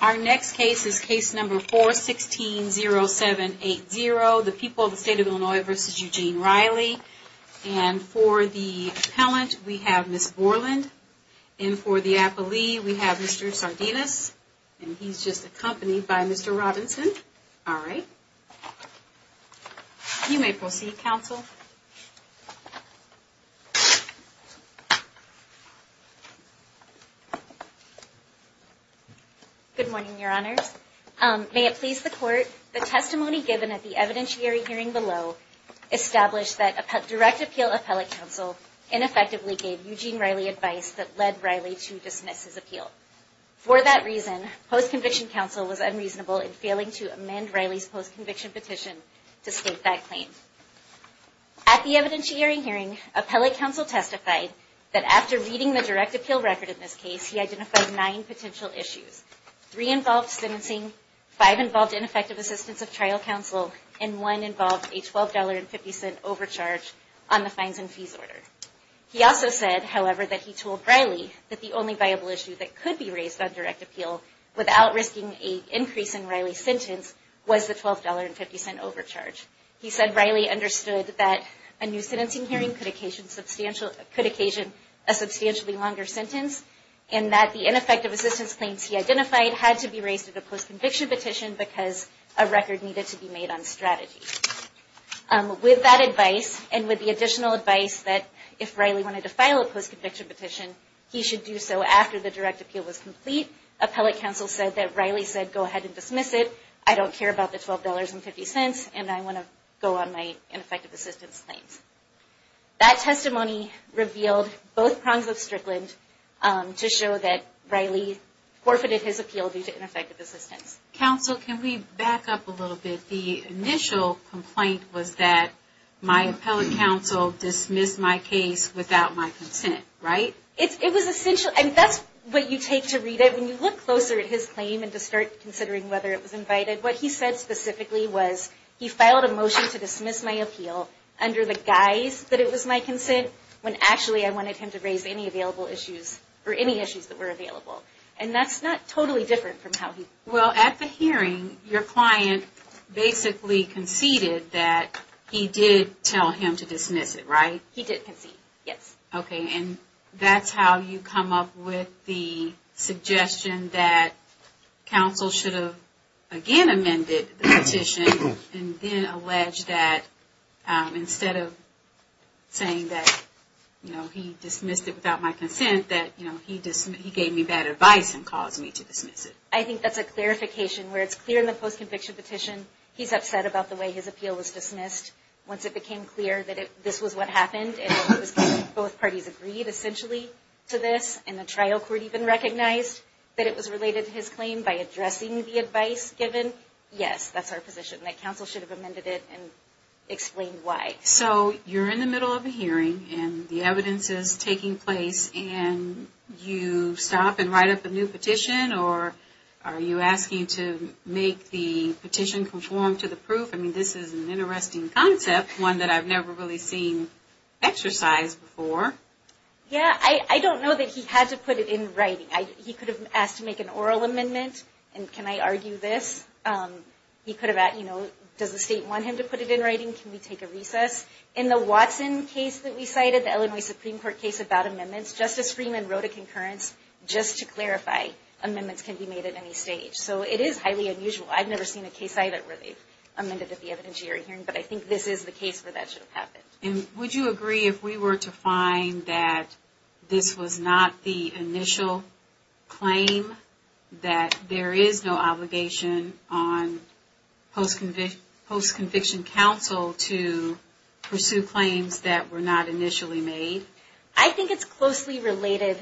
Our next case is case number 4-16-07-80, the people of the state of Illinois v. Eugene Riley. And for the appellant, we have Ms. Borland. And for the appellee, we have Mr. Sardinas. And he's just accompanied by Mr. Robinson. All right. You may proceed, counsel. Good morning, Your Honors. May it please the court, the testimony given at the evidentiary hearing below established that direct appeal appellate counsel ineffectively gave Eugene Riley advice that led Riley to dismiss his appeal. For that reason, post-conviction counsel was unreasonable in failing to amend Riley's post-conviction petition to state that claim. At the evidentiary hearing, appellate counsel testified that after reading the direct appeal record in this case, he identified nine potential issues. Three involved sentencing, five involved ineffective assistance of trial counsel, and one involved a $12.50 overcharge on the fines and fees order. He also said, however, that he told Riley that the only viable issue that could be raised on direct appeal without risking an increase in Riley's sentence was the $12.50 overcharge. He said Riley understood that a new sentencing hearing could occasion a substantially longer sentence and that the ineffective assistance claims he identified had to be raised at a post-conviction petition because a record needed to be made on strategy. With that advice, and with the additional advice that if Riley wanted to file a post-conviction petition, he should do so after the direct appeal was complete, appellate counsel said that Riley said, go ahead and dismiss it. I don't care about the $12.50, and I want to go on my ineffective assistance claims. That testimony revealed both prongs of Strickland to show that Riley forfeited his appeal due to ineffective assistance. Counsel, can we back up a little bit? The initial complaint was that my appellate counsel dismissed my case without my consent, right? It was essential, and that's what you take to read it. When you look closer at his claim and to start considering whether it was invited, what he said specifically was he filed a motion to dismiss my appeal under the guise that it was my consent when actually I wanted him to raise any available issues, or any issues that were available. And that's not totally different from how he. Well, at the hearing, your client basically conceded that he did tell him to dismiss it, right? He did concede, yes. Okay, and that's how you come up with the suggestion that counsel should have again amended the petition and then alleged that instead of saying that he dismissed it without my consent, that he gave me bad advice and caused me to dismiss it. I think that's a clarification where it's clear in the post-conviction petition, he's upset about the way his appeal was dismissed. Once it became clear that this was what happened, and both parties agreed essentially to this, and the trial court even recognized that it was related to his claim by addressing the advice given, yes, that's our position, that counsel should have amended it and explained why. So you're in the middle of a hearing, and the evidence is taking place, and you stop and write up a new petition, or are you asking to make the petition conform to the proof? I mean, this is an interesting concept, one that I've never really seen exercised before. Yeah, I don't know that he had to put it in writing. He could have asked to make an oral amendment, and can I argue this? He could have asked, you know, does the state want him to put it in writing? Can we take a recess? In the Watson case that we cited, the Illinois Supreme Court case about amendments, Justice Freeman wrote a concurrence just to clarify amendments can be made at any stage. So it is highly unusual. I've never seen a case either where they've amended the evidence you're hearing, but I think this is the case where that should have happened. And would you agree if we were to find that this was not the initial claim, that there is no obligation on post-conviction counsel to pursue claims that were not initially made? I think it's closely related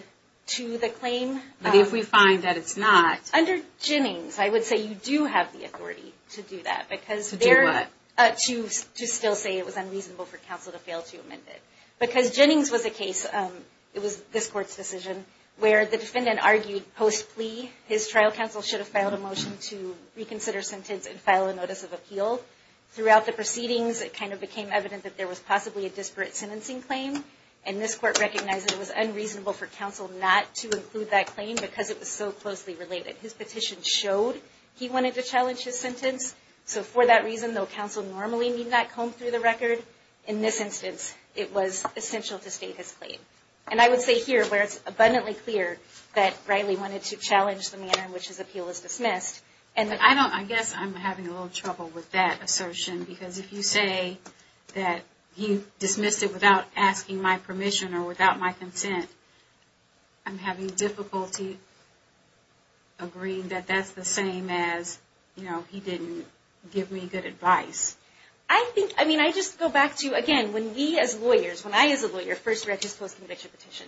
to the claim. But if we find that it's not? Under Jennings, I would say you do have the authority to do that. To do what? To still say it was unreasonable for counsel to fail to amend it. Because Jennings was a case, it was this Court's decision, where the defendant argued post-plea, his trial counsel should have filed a motion to reconsider sentence and file a notice of appeal. Throughout the proceedings, it kind of became evident that there was possibly a disparate sentencing claim, and this Court recognized that it was unreasonable for counsel not to include that claim because it was so closely related. His petition showed he wanted to challenge his sentence, so for that reason, though counsel normally need not comb through the record, in this instance, it was essential to state his claim. And I would say here, where it's abundantly clear that Riley wanted to challenge the manner in which his appeal was dismissed. I guess I'm having a little trouble with that assertion, because if you say that he dismissed it without asking my permission or without my consent, I'm having difficulty agreeing that that's the same as, you know, he didn't give me good advice. I think, I mean, I just go back to, again, when we as lawyers, when I as a lawyer first read his post-conviction petition,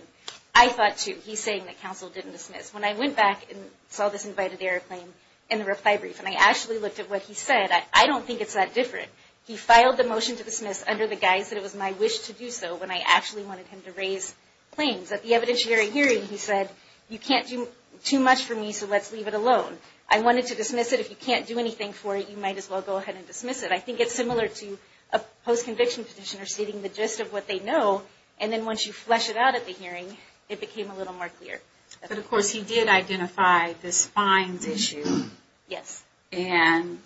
I thought, too, he's saying that counsel didn't dismiss. When I went back and saw this invited error claim in the reply brief and I actually looked at what he said, I don't think it's that different. He filed the motion to dismiss under the guise that it was my wish to do so when I actually wanted him to raise claims. At the evidentiary hearing, he said, you can't do too much for me, so let's leave it alone. I wanted to dismiss it. If you can't do anything for it, you might as well go ahead and dismiss it. I think it's similar to a post-conviction petitioner stating the gist of what they know, and then once you flesh it out at the hearing, it became a little more clear. But, of course, he did identify this fines issue. Yes. And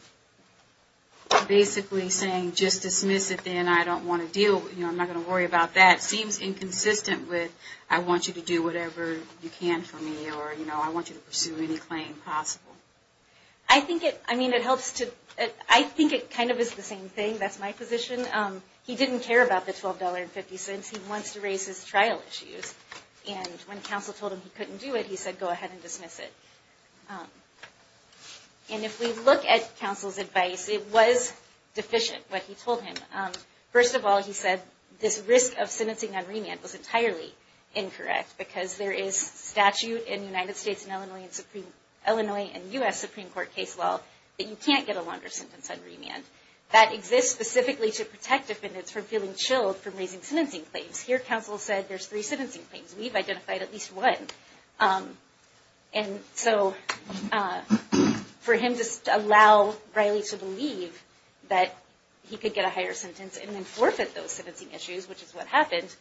basically saying, just dismiss it then, I don't want to deal with it, I'm not going to worry about that, seems inconsistent with, I want you to do whatever you can for me, or I want you to pursue any claim possible. I think it kind of is the same thing. That's my position. He didn't care about the $12.50. He wants to raise his trial issues. And when counsel told him he couldn't do it, he said, go ahead and dismiss it. And if we look at counsel's advice, it was deficient, what he told him. First of all, he said this risk of sentencing on remand was entirely incorrect, because there is statute in the United States and Illinois and U.S. Supreme Court case law that you can't get a longer sentence on remand. That exists specifically to protect defendants from feeling chilled from raising sentencing claims. Here, counsel said, there's three sentencing claims. We've identified at least one. And so for him to allow Riley to believe that he could get a higher sentence and then forfeit those sentencing issues, which is what happened,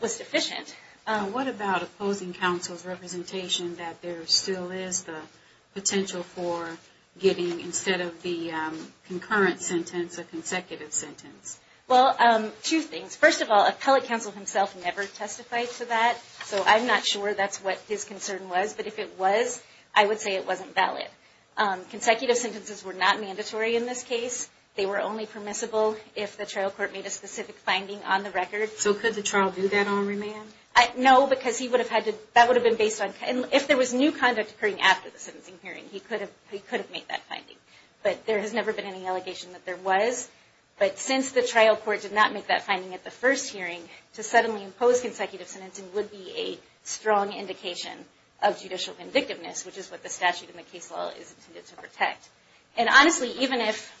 was deficient. What about opposing counsel's representation that there still is the potential for getting, instead of the concurrent sentence, a consecutive sentence? Well, two things. First of all, appellate counsel himself never testified to that, so I'm not sure that's what his concern was. But if it was, I would say it wasn't valid. Consecutive sentences were not mandatory in this case. They were only permissible if the trial court made a specific finding on the record. So could the trial do that on remand? No, because he would have had to, that would have been based on, if there was new conduct occurring after the sentencing hearing, he could have made that finding. But there has never been any allegation that there was. But since the trial court did not make that finding at the first hearing, to suddenly impose consecutive sentencing would be a strong indication of judicial convictiveness, which is what the statute in the case law is intended to protect. And honestly, even if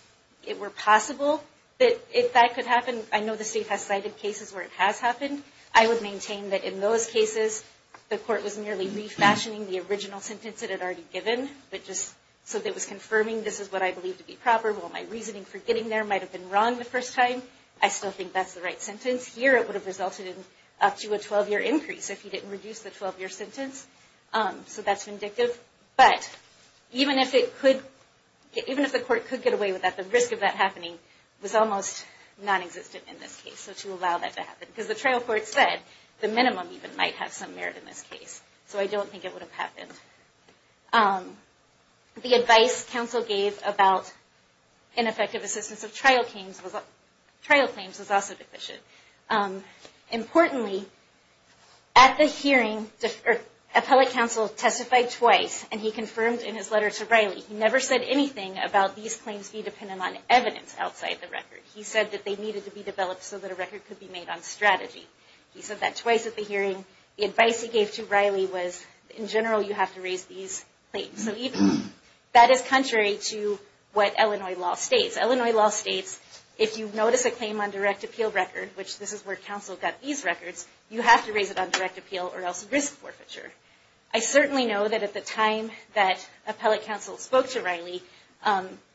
it were possible that that could happen, I know the state has cited cases where it has happened, I would maintain that in those cases the court was merely refashioning the original sentence it had already given, so that it was confirming this is what I believe to be proper. While my reasoning for getting there might have been wrong the first time, I still think that's the right sentence. Here it would have resulted in up to a 12-year increase if you didn't reduce the 12-year sentence. So that's vindictive. But even if the court could get away with that, the risk of that happening was almost nonexistent in this case. So to allow that to happen, because the trial court said the minimum even might have some merit in this case. So I don't think it would have happened. The advice counsel gave about ineffective assistance of trial claims was also deficient. Importantly, at the hearing, appellate counsel testified twice, and he confirmed in his letter to Riley, he never said anything about these claims being dependent on evidence outside the record. He said that they needed to be developed so that a record could be made on strategy. He said that twice at the hearing. The advice he gave to Riley was, in general, you have to raise these claims. So that is contrary to what Illinois law states. Illinois law states if you notice a claim on direct appeal record, which this is where counsel got these records, you have to raise it on direct appeal or else risk forfeiture. I certainly know that at the time that appellate counsel spoke to Riley,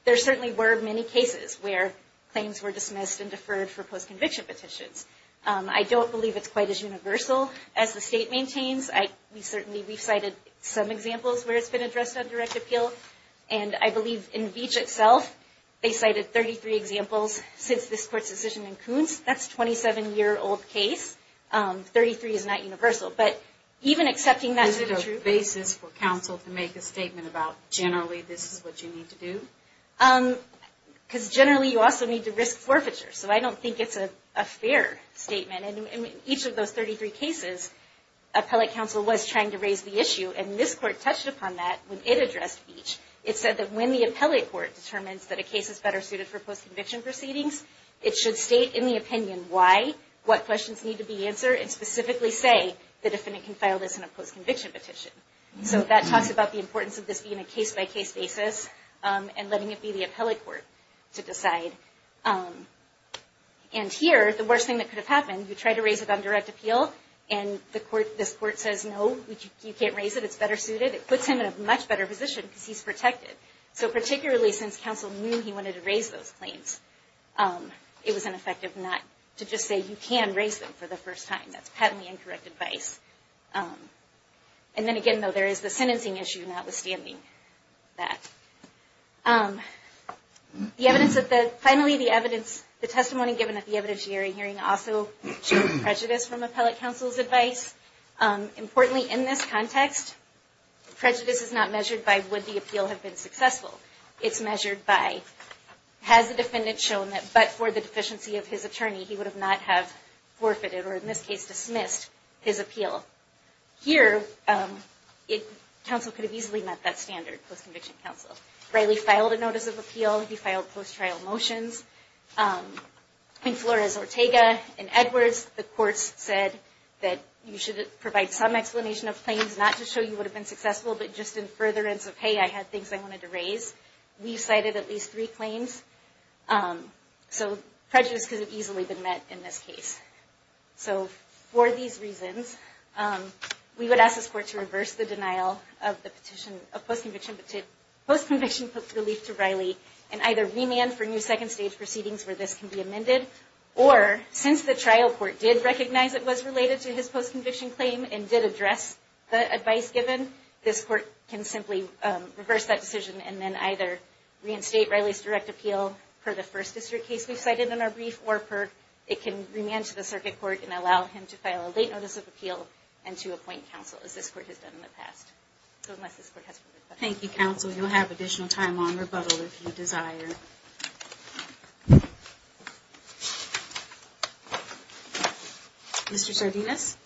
there certainly were many cases where claims were dismissed and deferred for post-conviction petitions. I don't believe it's quite as universal as the state maintains. We've cited some examples where it's been addressed on direct appeal, and I believe in Veatch itself they cited 33 examples since this court's decision in Koontz. That's a 27-year-old case. Thirty-three is not universal, but even accepting that is true. Is it a basis for counsel to make a statement about generally this is what you need to do? Because generally you also need to risk forfeiture, so I don't think it's a fair statement. In each of those 33 cases, appellate counsel was trying to raise the issue, and this court touched upon that when it addressed Veatch. It said that when the appellate court determines that a case is better suited for post-conviction proceedings, it should state in the opinion why, what questions need to be answered, and specifically say the defendant can file this in a post-conviction petition. So that talks about the importance of this being a case-by-case basis and letting it be the appellate court to decide. And here, the worst thing that could have happened, you try to raise it on direct appeal, and this court says, no, you can't raise it, it's better suited. It puts him in a much better position because he's protected. So particularly since counsel knew he wanted to raise those claims, it was ineffective not to just say you can raise them for the first time. That's patently incorrect advice. And then again, though, there is the sentencing issue notwithstanding that. Finally, the testimony given at the evidentiary hearing also showed prejudice from appellate counsel's advice. Importantly, in this context, prejudice is not measured by would the appeal have been successful. It's measured by has the defendant shown that but for the deficiency of his attorney, he would not have forfeited or, in this case, dismissed his appeal. Here, counsel could have easily met that standard, post-conviction counsel. Riley filed a notice of appeal, he filed post-trial motions. Flores, Ortega, and Edwards, the courts said that you should provide some explanation of claims, not to show you would have been successful, but just in furtherance of, hey, I had things I wanted to raise. We cited at least three claims. So prejudice could have easily been met in this case. So for these reasons, we would ask this court to reverse the denial of post-conviction relief to Riley and either remand for new second stage proceedings where this can be amended, or since the trial court did recognize it was related to his post-conviction claim and did address the advice given, this court can simply reverse that decision and then either reinstate Riley's direct appeal per the first district case we've cited in our brief or it can remand to the circuit court and allow him to file a late notice of appeal and to appoint counsel as this court has done in the past. So unless this court has further questions. Thank you, counsel. You'll have additional time on rebuttal if you desire. Mr. Sardinus?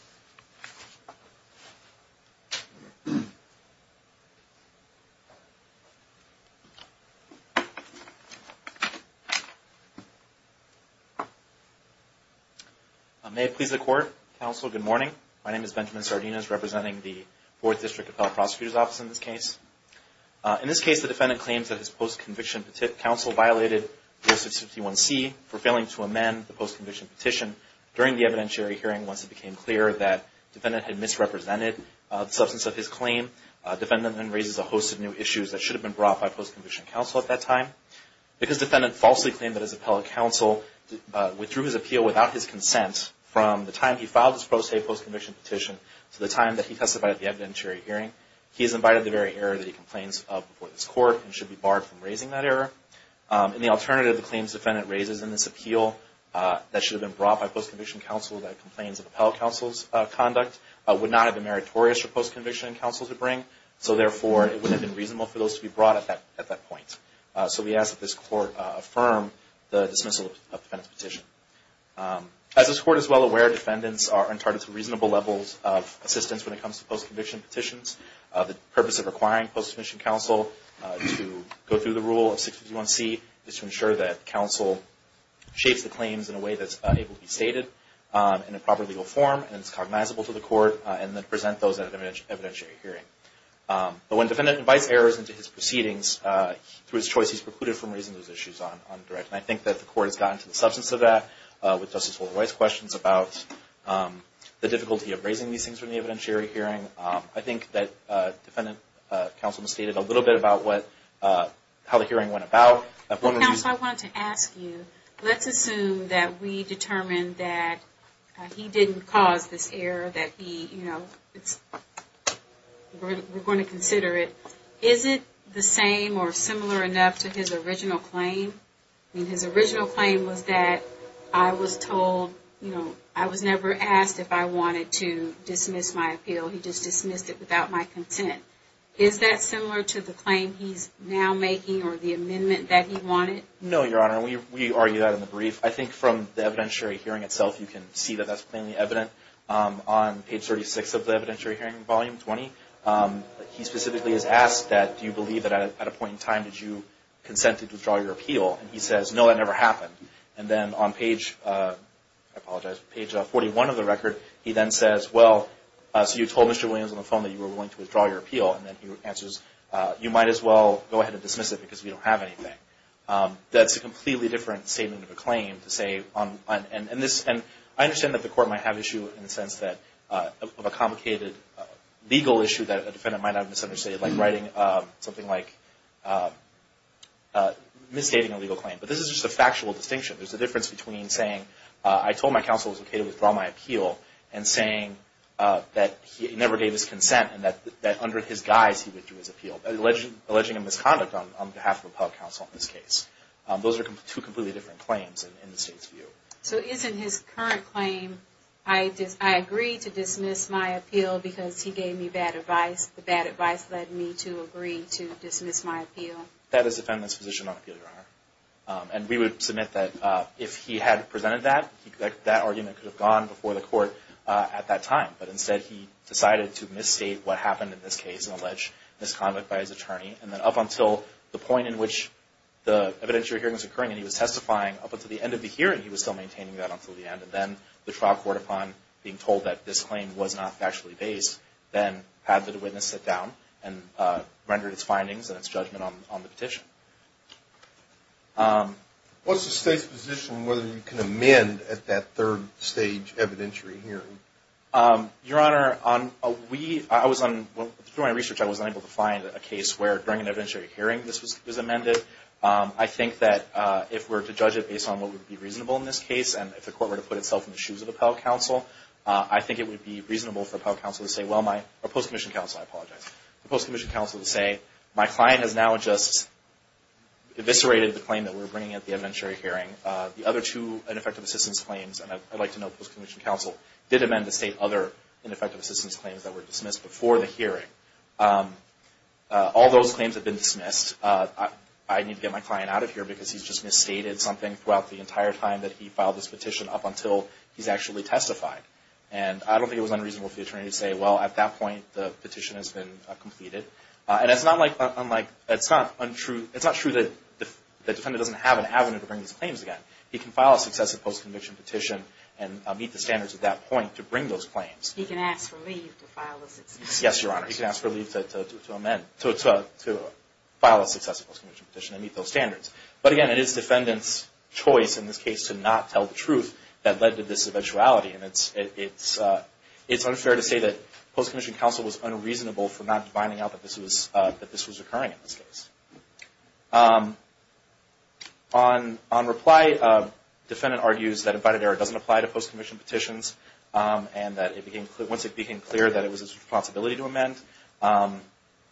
May it please the court. Counsel, good morning. My name is Benjamin Sardinus representing the Fourth District Appellate Prosecutor's Office in this case. In this case, the defendant claims that his post-conviction counsel violated Rule 651C for failing to amend the post-conviction petition during the evidentiary hearing once it became clear that the defendant had misrepresented the substance of his claim. The defendant then raises a host of new issues that should have been brought by post-conviction counsel at that time. Because the defendant falsely claimed that his appellate counsel withdrew his appeal without his consent from the time he filed his post-conviction petition to the time that he testified at the evidentiary hearing, he is invited to the very area that he complains of before this court and should be barred from raising that area. In the alternative, the claims the defendant raises in this appeal that should have been brought by post-conviction counsel that complains of appellate counsel's conduct would not have been meritorious for post-conviction counsel to bring. So therefore, it wouldn't have been reasonable for those to be brought at that point. So we ask that this court affirm the dismissal of the defendant's petition. As this court is well aware, defendants are entitled to reasonable levels of assistance when it comes to post-conviction petitions. The purpose of requiring post-conviction counsel to go through the Rule of 651C is to ensure that counsel shapes the claims in a way that's able to be stated in a proper legal form and is cognizable to the court and then present those at an evidentiary hearing. But when a defendant invites errors into his proceedings through his choice, he's precluded from raising those issues on direct. And I think that the court has gotten to the substance of that with Justice Wolde-White's questions about the difficulty of raising these things from the evidentiary hearing. I think that defendant counsel misstated a little bit about how the hearing went about. Counsel, I wanted to ask you, let's assume that we determined that he didn't cause this error, that he, you know, we're going to consider it. Is it the same or similar enough to his original claim? I mean, his original claim was that I was told, you know, I was never asked if I wanted to dismiss my appeal. He just dismissed it without my consent. Is that similar to the claim he's now making or the amendment that he wanted? No, Your Honor. We argue that in the brief. I think from the evidentiary hearing itself, you can see that that's plainly evident. On page 36 of the evidentiary hearing, volume 20, he specifically is asked that, do you believe that at a point in time did you consent to withdraw your appeal? And he says, no, that never happened. And then on page, I apologize, page 41 of the record, he then says, well, so you told Mr. Williams on the phone that you were willing to withdraw your appeal. And then he answers, you might as well go ahead and dismiss it because we don't have anything. That's a completely different statement of a claim to say, and I understand that the court might have issue in the sense of a complicated legal issue that a defendant might have a complicated legal claim. But this is just a factual distinction. There's a difference between saying, I told my counsel it was okay to withdraw my appeal and saying that he never gave his consent and that under his guise he withdrew his appeal, alleging a misconduct on behalf of the public counsel in this case. Those are two completely different claims in the state's view. So isn't his current claim, I agree to dismiss my appeal because he gave me bad advice. The bad advice led me to agree to dismiss my appeal. That is the defendant's position on appeal, Your Honor. And we would submit that if he had presented that, that argument could have gone before the court at that time. But instead he decided to misstate what happened in this case and allege misconduct by his attorney. And then up until the point in which the evidentiary hearing was occurring and he was testifying, up until the end of the hearing he was still maintaining that until the end. And then the trial court, upon being told that this claim was not factually based, then had the witness sit down and rendered its findings and its judgment on the petition. What's the state's position on whether you can amend at that third stage evidentiary hearing? Your Honor, through my research I was unable to find a case where during an evidentiary hearing this was amended. I think that if we're to judge it based on what would be reasonable in this case, and if the court were to put itself in the shoes of the appellate counsel, I think it would be reasonable for the appellate counsel to say, or post-commissioned counsel, I apologize, the post-commissioned counsel to say, my client has now just eviscerated the claim that we're bringing at the evidentiary hearing. The other two ineffective assistance claims, and I'd like to note post-commissioned counsel did amend the state other ineffective assistance claims that were dismissed before the hearing. All those claims have been dismissed. I need to get my client out of here because he's just misstated something throughout the entire time that he filed this petition up until he's actually testified. And I don't think it was unreasonable for the attorney to say, well, at that point the petition has been completed. And it's not true that the defendant doesn't have an avenue to bring these claims again. He can file a successive post-conviction petition and meet the standards at that point to bring those claims. He can ask for leave to file a successive post-conviction petition. Yes, Your Honor, he can ask for leave to file a successive post-conviction petition and meet those standards. But again, it is the defendant's choice in this case to not tell the truth that led to this eventuality. And it's unfair to say that post-commissioned counsel was unreasonable for not finding out that this was occurring in this case. On reply, defendant argues that invited error doesn't apply to post-commissioned petitions. And that once it became clear that it was his responsibility to amend,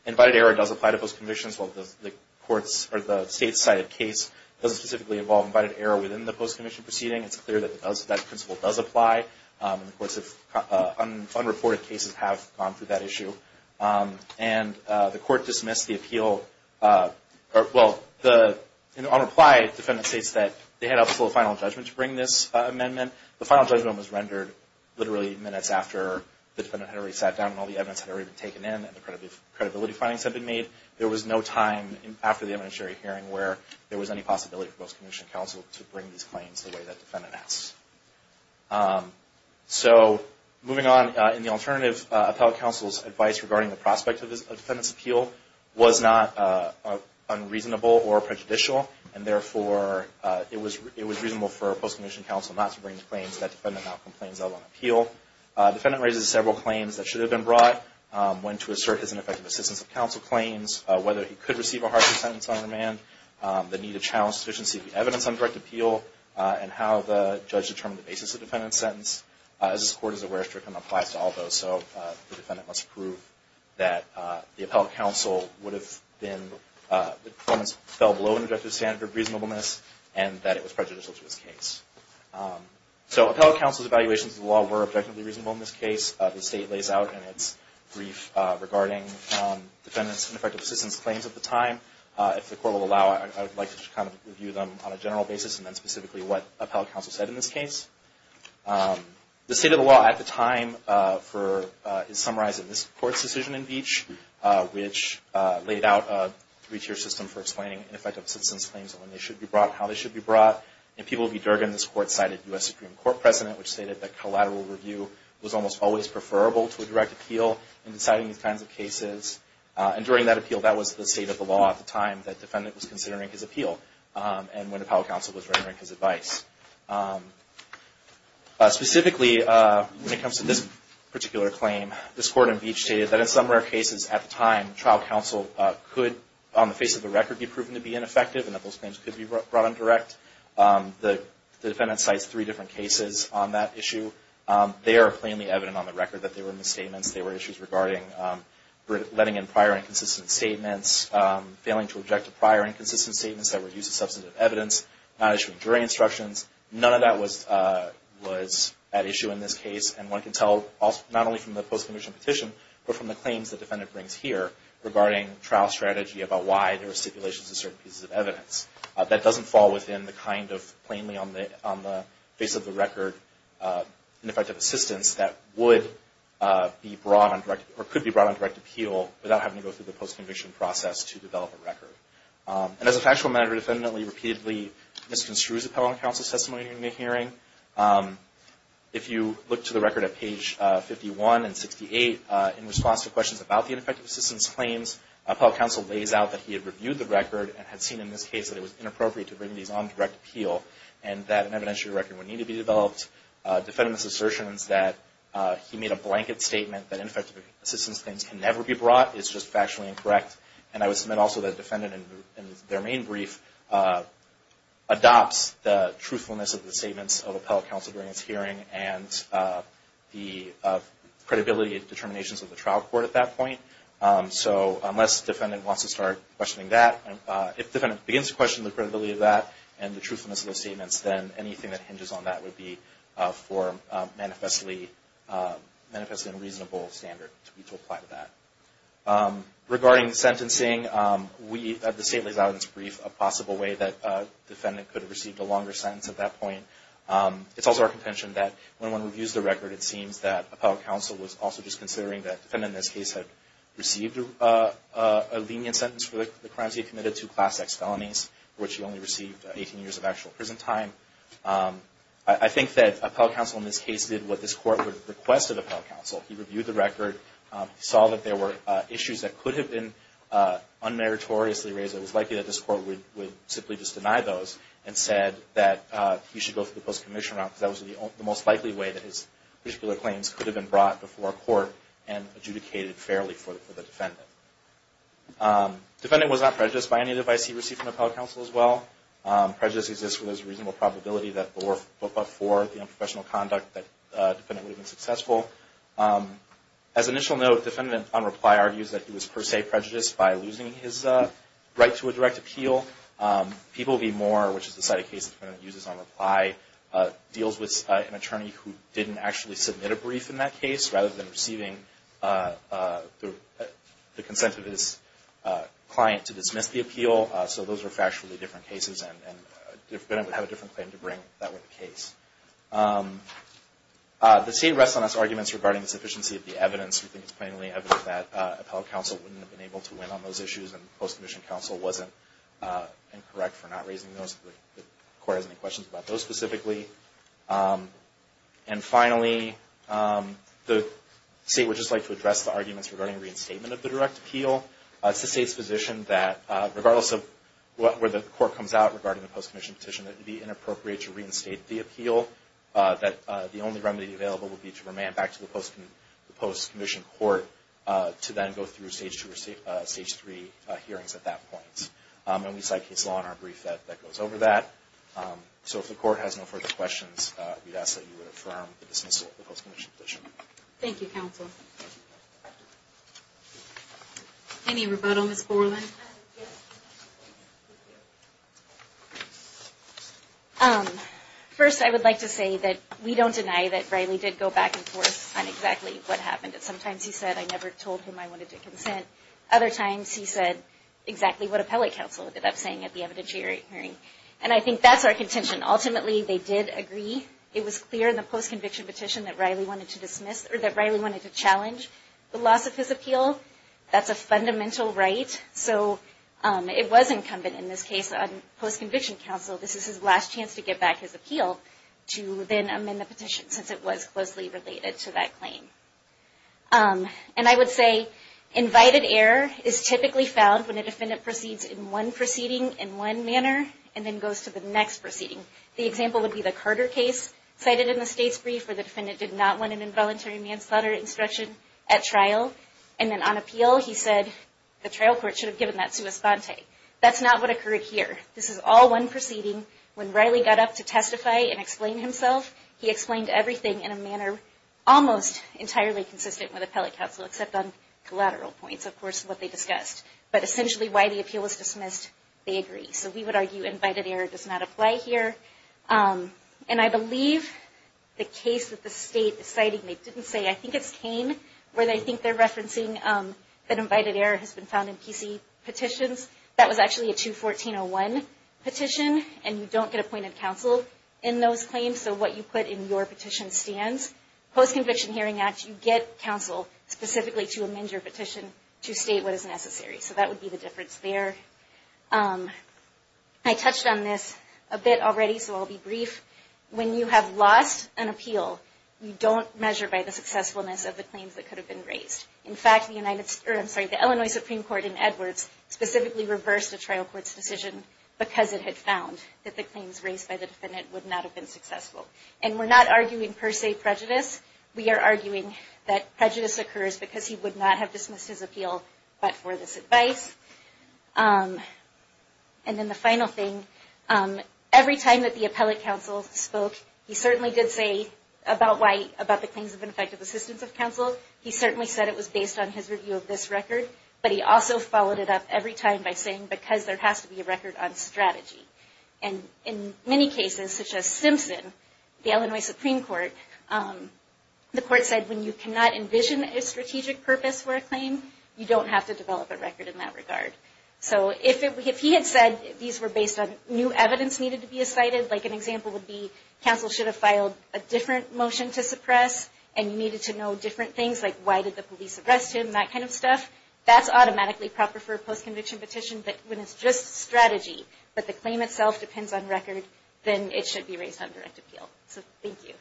invited error does apply to post-commissions. While the state cited case doesn't specifically involve invited error within the post-commissioned proceeding, it's clear that that principle does apply. And of course, unreported cases have gone through that issue. And the court dismissed the appeal. On reply, defendant states that they had up to a final judgment to bring this amendment. The final judgment was rendered literally minutes after the defendant had already sat down and all the evidence had already been taken in and the credibility findings had been made. There was no time after the eminent jury hearing where there was any possibility for post-commissioned counsel to bring these claims the way that defendant asks. So, moving on, in the alternative, appellate counsel's advice regarding the prospect of a defendant's appeal was not unreasonable or prejudicial. And therefore, it was reasonable for post-commissioned counsel not to bring the claims that defendant now complains of on appeal. Defendant raises several claims that should have been brought, went to assert his ineffective assistance of counsel claims, whether he could receive a hardship sentence on remand, the need to challenge sufficiency of the evidence on direct appeal, and how the judge determined the basis of the defendant's sentence. As this Court is aware, strictly applies to all those. So the defendant must prove that the appellate counsel would have been, the performance fell below an objective standard of reasonableness and that it was prejudicial to his case. So appellate counsel's evaluations of the law were objectively reasonable in this case. The State lays out in its brief regarding defendants' ineffective assistance claims at the time. If the Court will allow, I would like to kind of review them on a general basis and then specifically what appellate counsel said in this case. The State of the law at the time is summarized in this Court's decision in Beach, which laid out a three-tier system for explaining ineffective assistance claims and when they should be brought, how they should be brought. In People v. Durgin, this Court cited U.S. Supreme Court precedent, which stated that collateral review was almost always preferable to a direct appeal in deciding these kinds of cases. And during that appeal, that was the State of the law at the time that defendant was considering his appeal and when appellate counsel was rendering his advice. Specifically, when it comes to this particular claim, this Court in Beach stated that in some rare cases at the time, trial counsel could, on the face of the record, be proven to be ineffective and that those claims could be brought on direct. The defendant cites three different cases on that issue. They are plainly evident on the record that they were misstatements. They were issues regarding letting in prior inconsistent statements, failing to object to prior inconsistent statements that were used as substantive evidence, not issuing jury instructions. None of that was at issue in this case. And one can tell not only from the post-conviction petition, but from the claims the defendant brings here regarding trial strategy about why there were stipulations in certain pieces of evidence. That doesn't fall within the kind of plainly on the face of the record ineffective assistance that would be brought on direct, or could be brought on direct appeal without having to go through the post-conviction process to develop a record. And as a factual matter, the defendant repeatedly misconstrues appellate counsel's testimony during the hearing. If you look to the record at page 51 and 68, in response to questions about the ineffective assistance claims, appellate counsel lays out that he had reviewed the record and had seen in this case that it was inappropriate to bring these on direct appeal and that an evidentiary record would need to be developed. Defendant's assertion is that he made a blanket statement that ineffective assistance claims can never be brought. It's just factually incorrect. And I would submit also that the defendant in their main brief adopts the truthfulness of the statements of appellate counsel during this hearing and the credibility and determinations of the trial court at that point. So unless the defendant wants to start questioning that, if the defendant begins to question the credibility of that and the truthfulness of those statements, then anything that hinges on that would be for a manifestly unreasonable standard to apply to that. Regarding sentencing, the state lays out in its brief a possible way that the defendant could have received a longer sentence at that point. It's also our contention that when one reviews the record, it seems that appellate counsel was also just considering that the defendant in this case had received a lenient sentence for the crimes he had committed, two Class X felonies, for which he only received 18 years of actual prison time. I think that appellate counsel in this case did what this court would have requested of appellate counsel. He reviewed the record. He saw that there were issues that could have been unmeritoriously raised. It was likely that this court would simply just deny those and said that he should go through the post-commission route because that was the most likely way that his particular claims could have been brought before court and adjudicated fairly for the defendant. Defendant was not prejudiced by any of the advice he received from appellate counsel as well. Prejudice exists where there's a reasonable probability that but for the unprofessional conduct that the defendant would have been successful. As an initial note, the defendant on reply argues that he was per se prejudiced by losing his right to a direct appeal. People v. Moore, which is the side of cases the defendant uses on reply, deals with an attorney who didn't actually submit a brief in that case rather than receiving the consent of his client to dismiss the appeal. So those are factually different cases and the defendant would have a different claim to bring if that were the case. The State rests on its arguments regarding the sufficiency of the evidence. We think it's plainly evident that appellate counsel wouldn't have been able to win on those issues and post-commission counsel wasn't incorrect for not raising those. If the court has any questions about those specifically. And finally, the State would just like to address the arguments regarding reinstatement of the direct appeal. It's the State's position that regardless of where the court comes out regarding the post-commission petition, that it would be inappropriate to reinstate the appeal. That the only remedy available would be to remand back to the post-commission court to then go through stage three hearings at that point. And we side case law in our brief that goes over that. So if the court has no further questions, we'd ask that you would affirm the dismissal of the post-commission petition. Thank you, counsel. Any rebuttal, Ms. Borland? First, I would like to say that we don't deny that Riley did go back and forth on exactly what happened. Sometimes he said, I never told him I wanted to consent. Other times he said exactly what appellate counsel ended up saying at the evidentiary hearing. And I think that's our contention. Ultimately, they did agree. It was clear in the post-conviction petition that Riley wanted to challenge the loss of his appeal. That's a fundamental right. So it was incumbent in this case on post-conviction counsel, this is his last chance to get back his appeal to then amend the petition since it was closely related to that claim. And I would say invited error is typically found when a defendant proceeds in one proceeding in one manner and then goes to the next proceeding. The example would be the Carter case cited in the state's brief where the defendant did not want an involuntary manslaughter instruction at trial. And then on appeal, he said the trial court should have given that sua sponte. That's not what occurred here. This is all one proceeding. When Riley got up to testify and explain himself, he explained everything in a manner almost entirely consistent with appellate counsel, except on collateral points, of course, what they discussed. But essentially why the appeal was dismissed, they agreed. So we would argue invited error does not apply here. And I believe the case that the state is citing, they didn't say, I think it's Kane, where they think they're referencing that invited error has been found in PC petitions. That was actually a 214-01 petition, and you don't get appointed counsel in those claims. So what you put in your petition stands. Post-conviction Hearing Act, you get counsel specifically to amend your petition to state what is necessary. So that would be the difference there. I touched on this a bit already, so I'll be brief. When you have lost an appeal, you don't measure by the successfulness of the claims that could have been raised. In fact, the Illinois Supreme Court in Edwards specifically reversed the trial court's decision because it had found that the claims raised by the defendant would not have been successful. And we're not arguing per se prejudice. We are arguing that prejudice occurs because he would not have dismissed his appeal but for this advice. And then the final thing, every time that the appellate counsel spoke, he certainly did say about the claims of ineffective assistance of counsel, he certainly said it was based on his review of this record. But he also followed it up every time by saying, because there has to be a record on strategy. And in many cases, such as Simpson, the Illinois Supreme Court, the court said when you cannot envision a strategic purpose for a claim, you don't have to develop a record in that regard. So if he had said these were based on new evidence needed to be cited, like an example would be, counsel should have filed a different motion to suppress and you needed to know different things, like why did the police arrest him, that kind of stuff, that's automatically proper for a post-conviction petition. But when it's just strategy, but the claim itself depends on record, then it should be raised on direct appeal. So thank you. Thank you.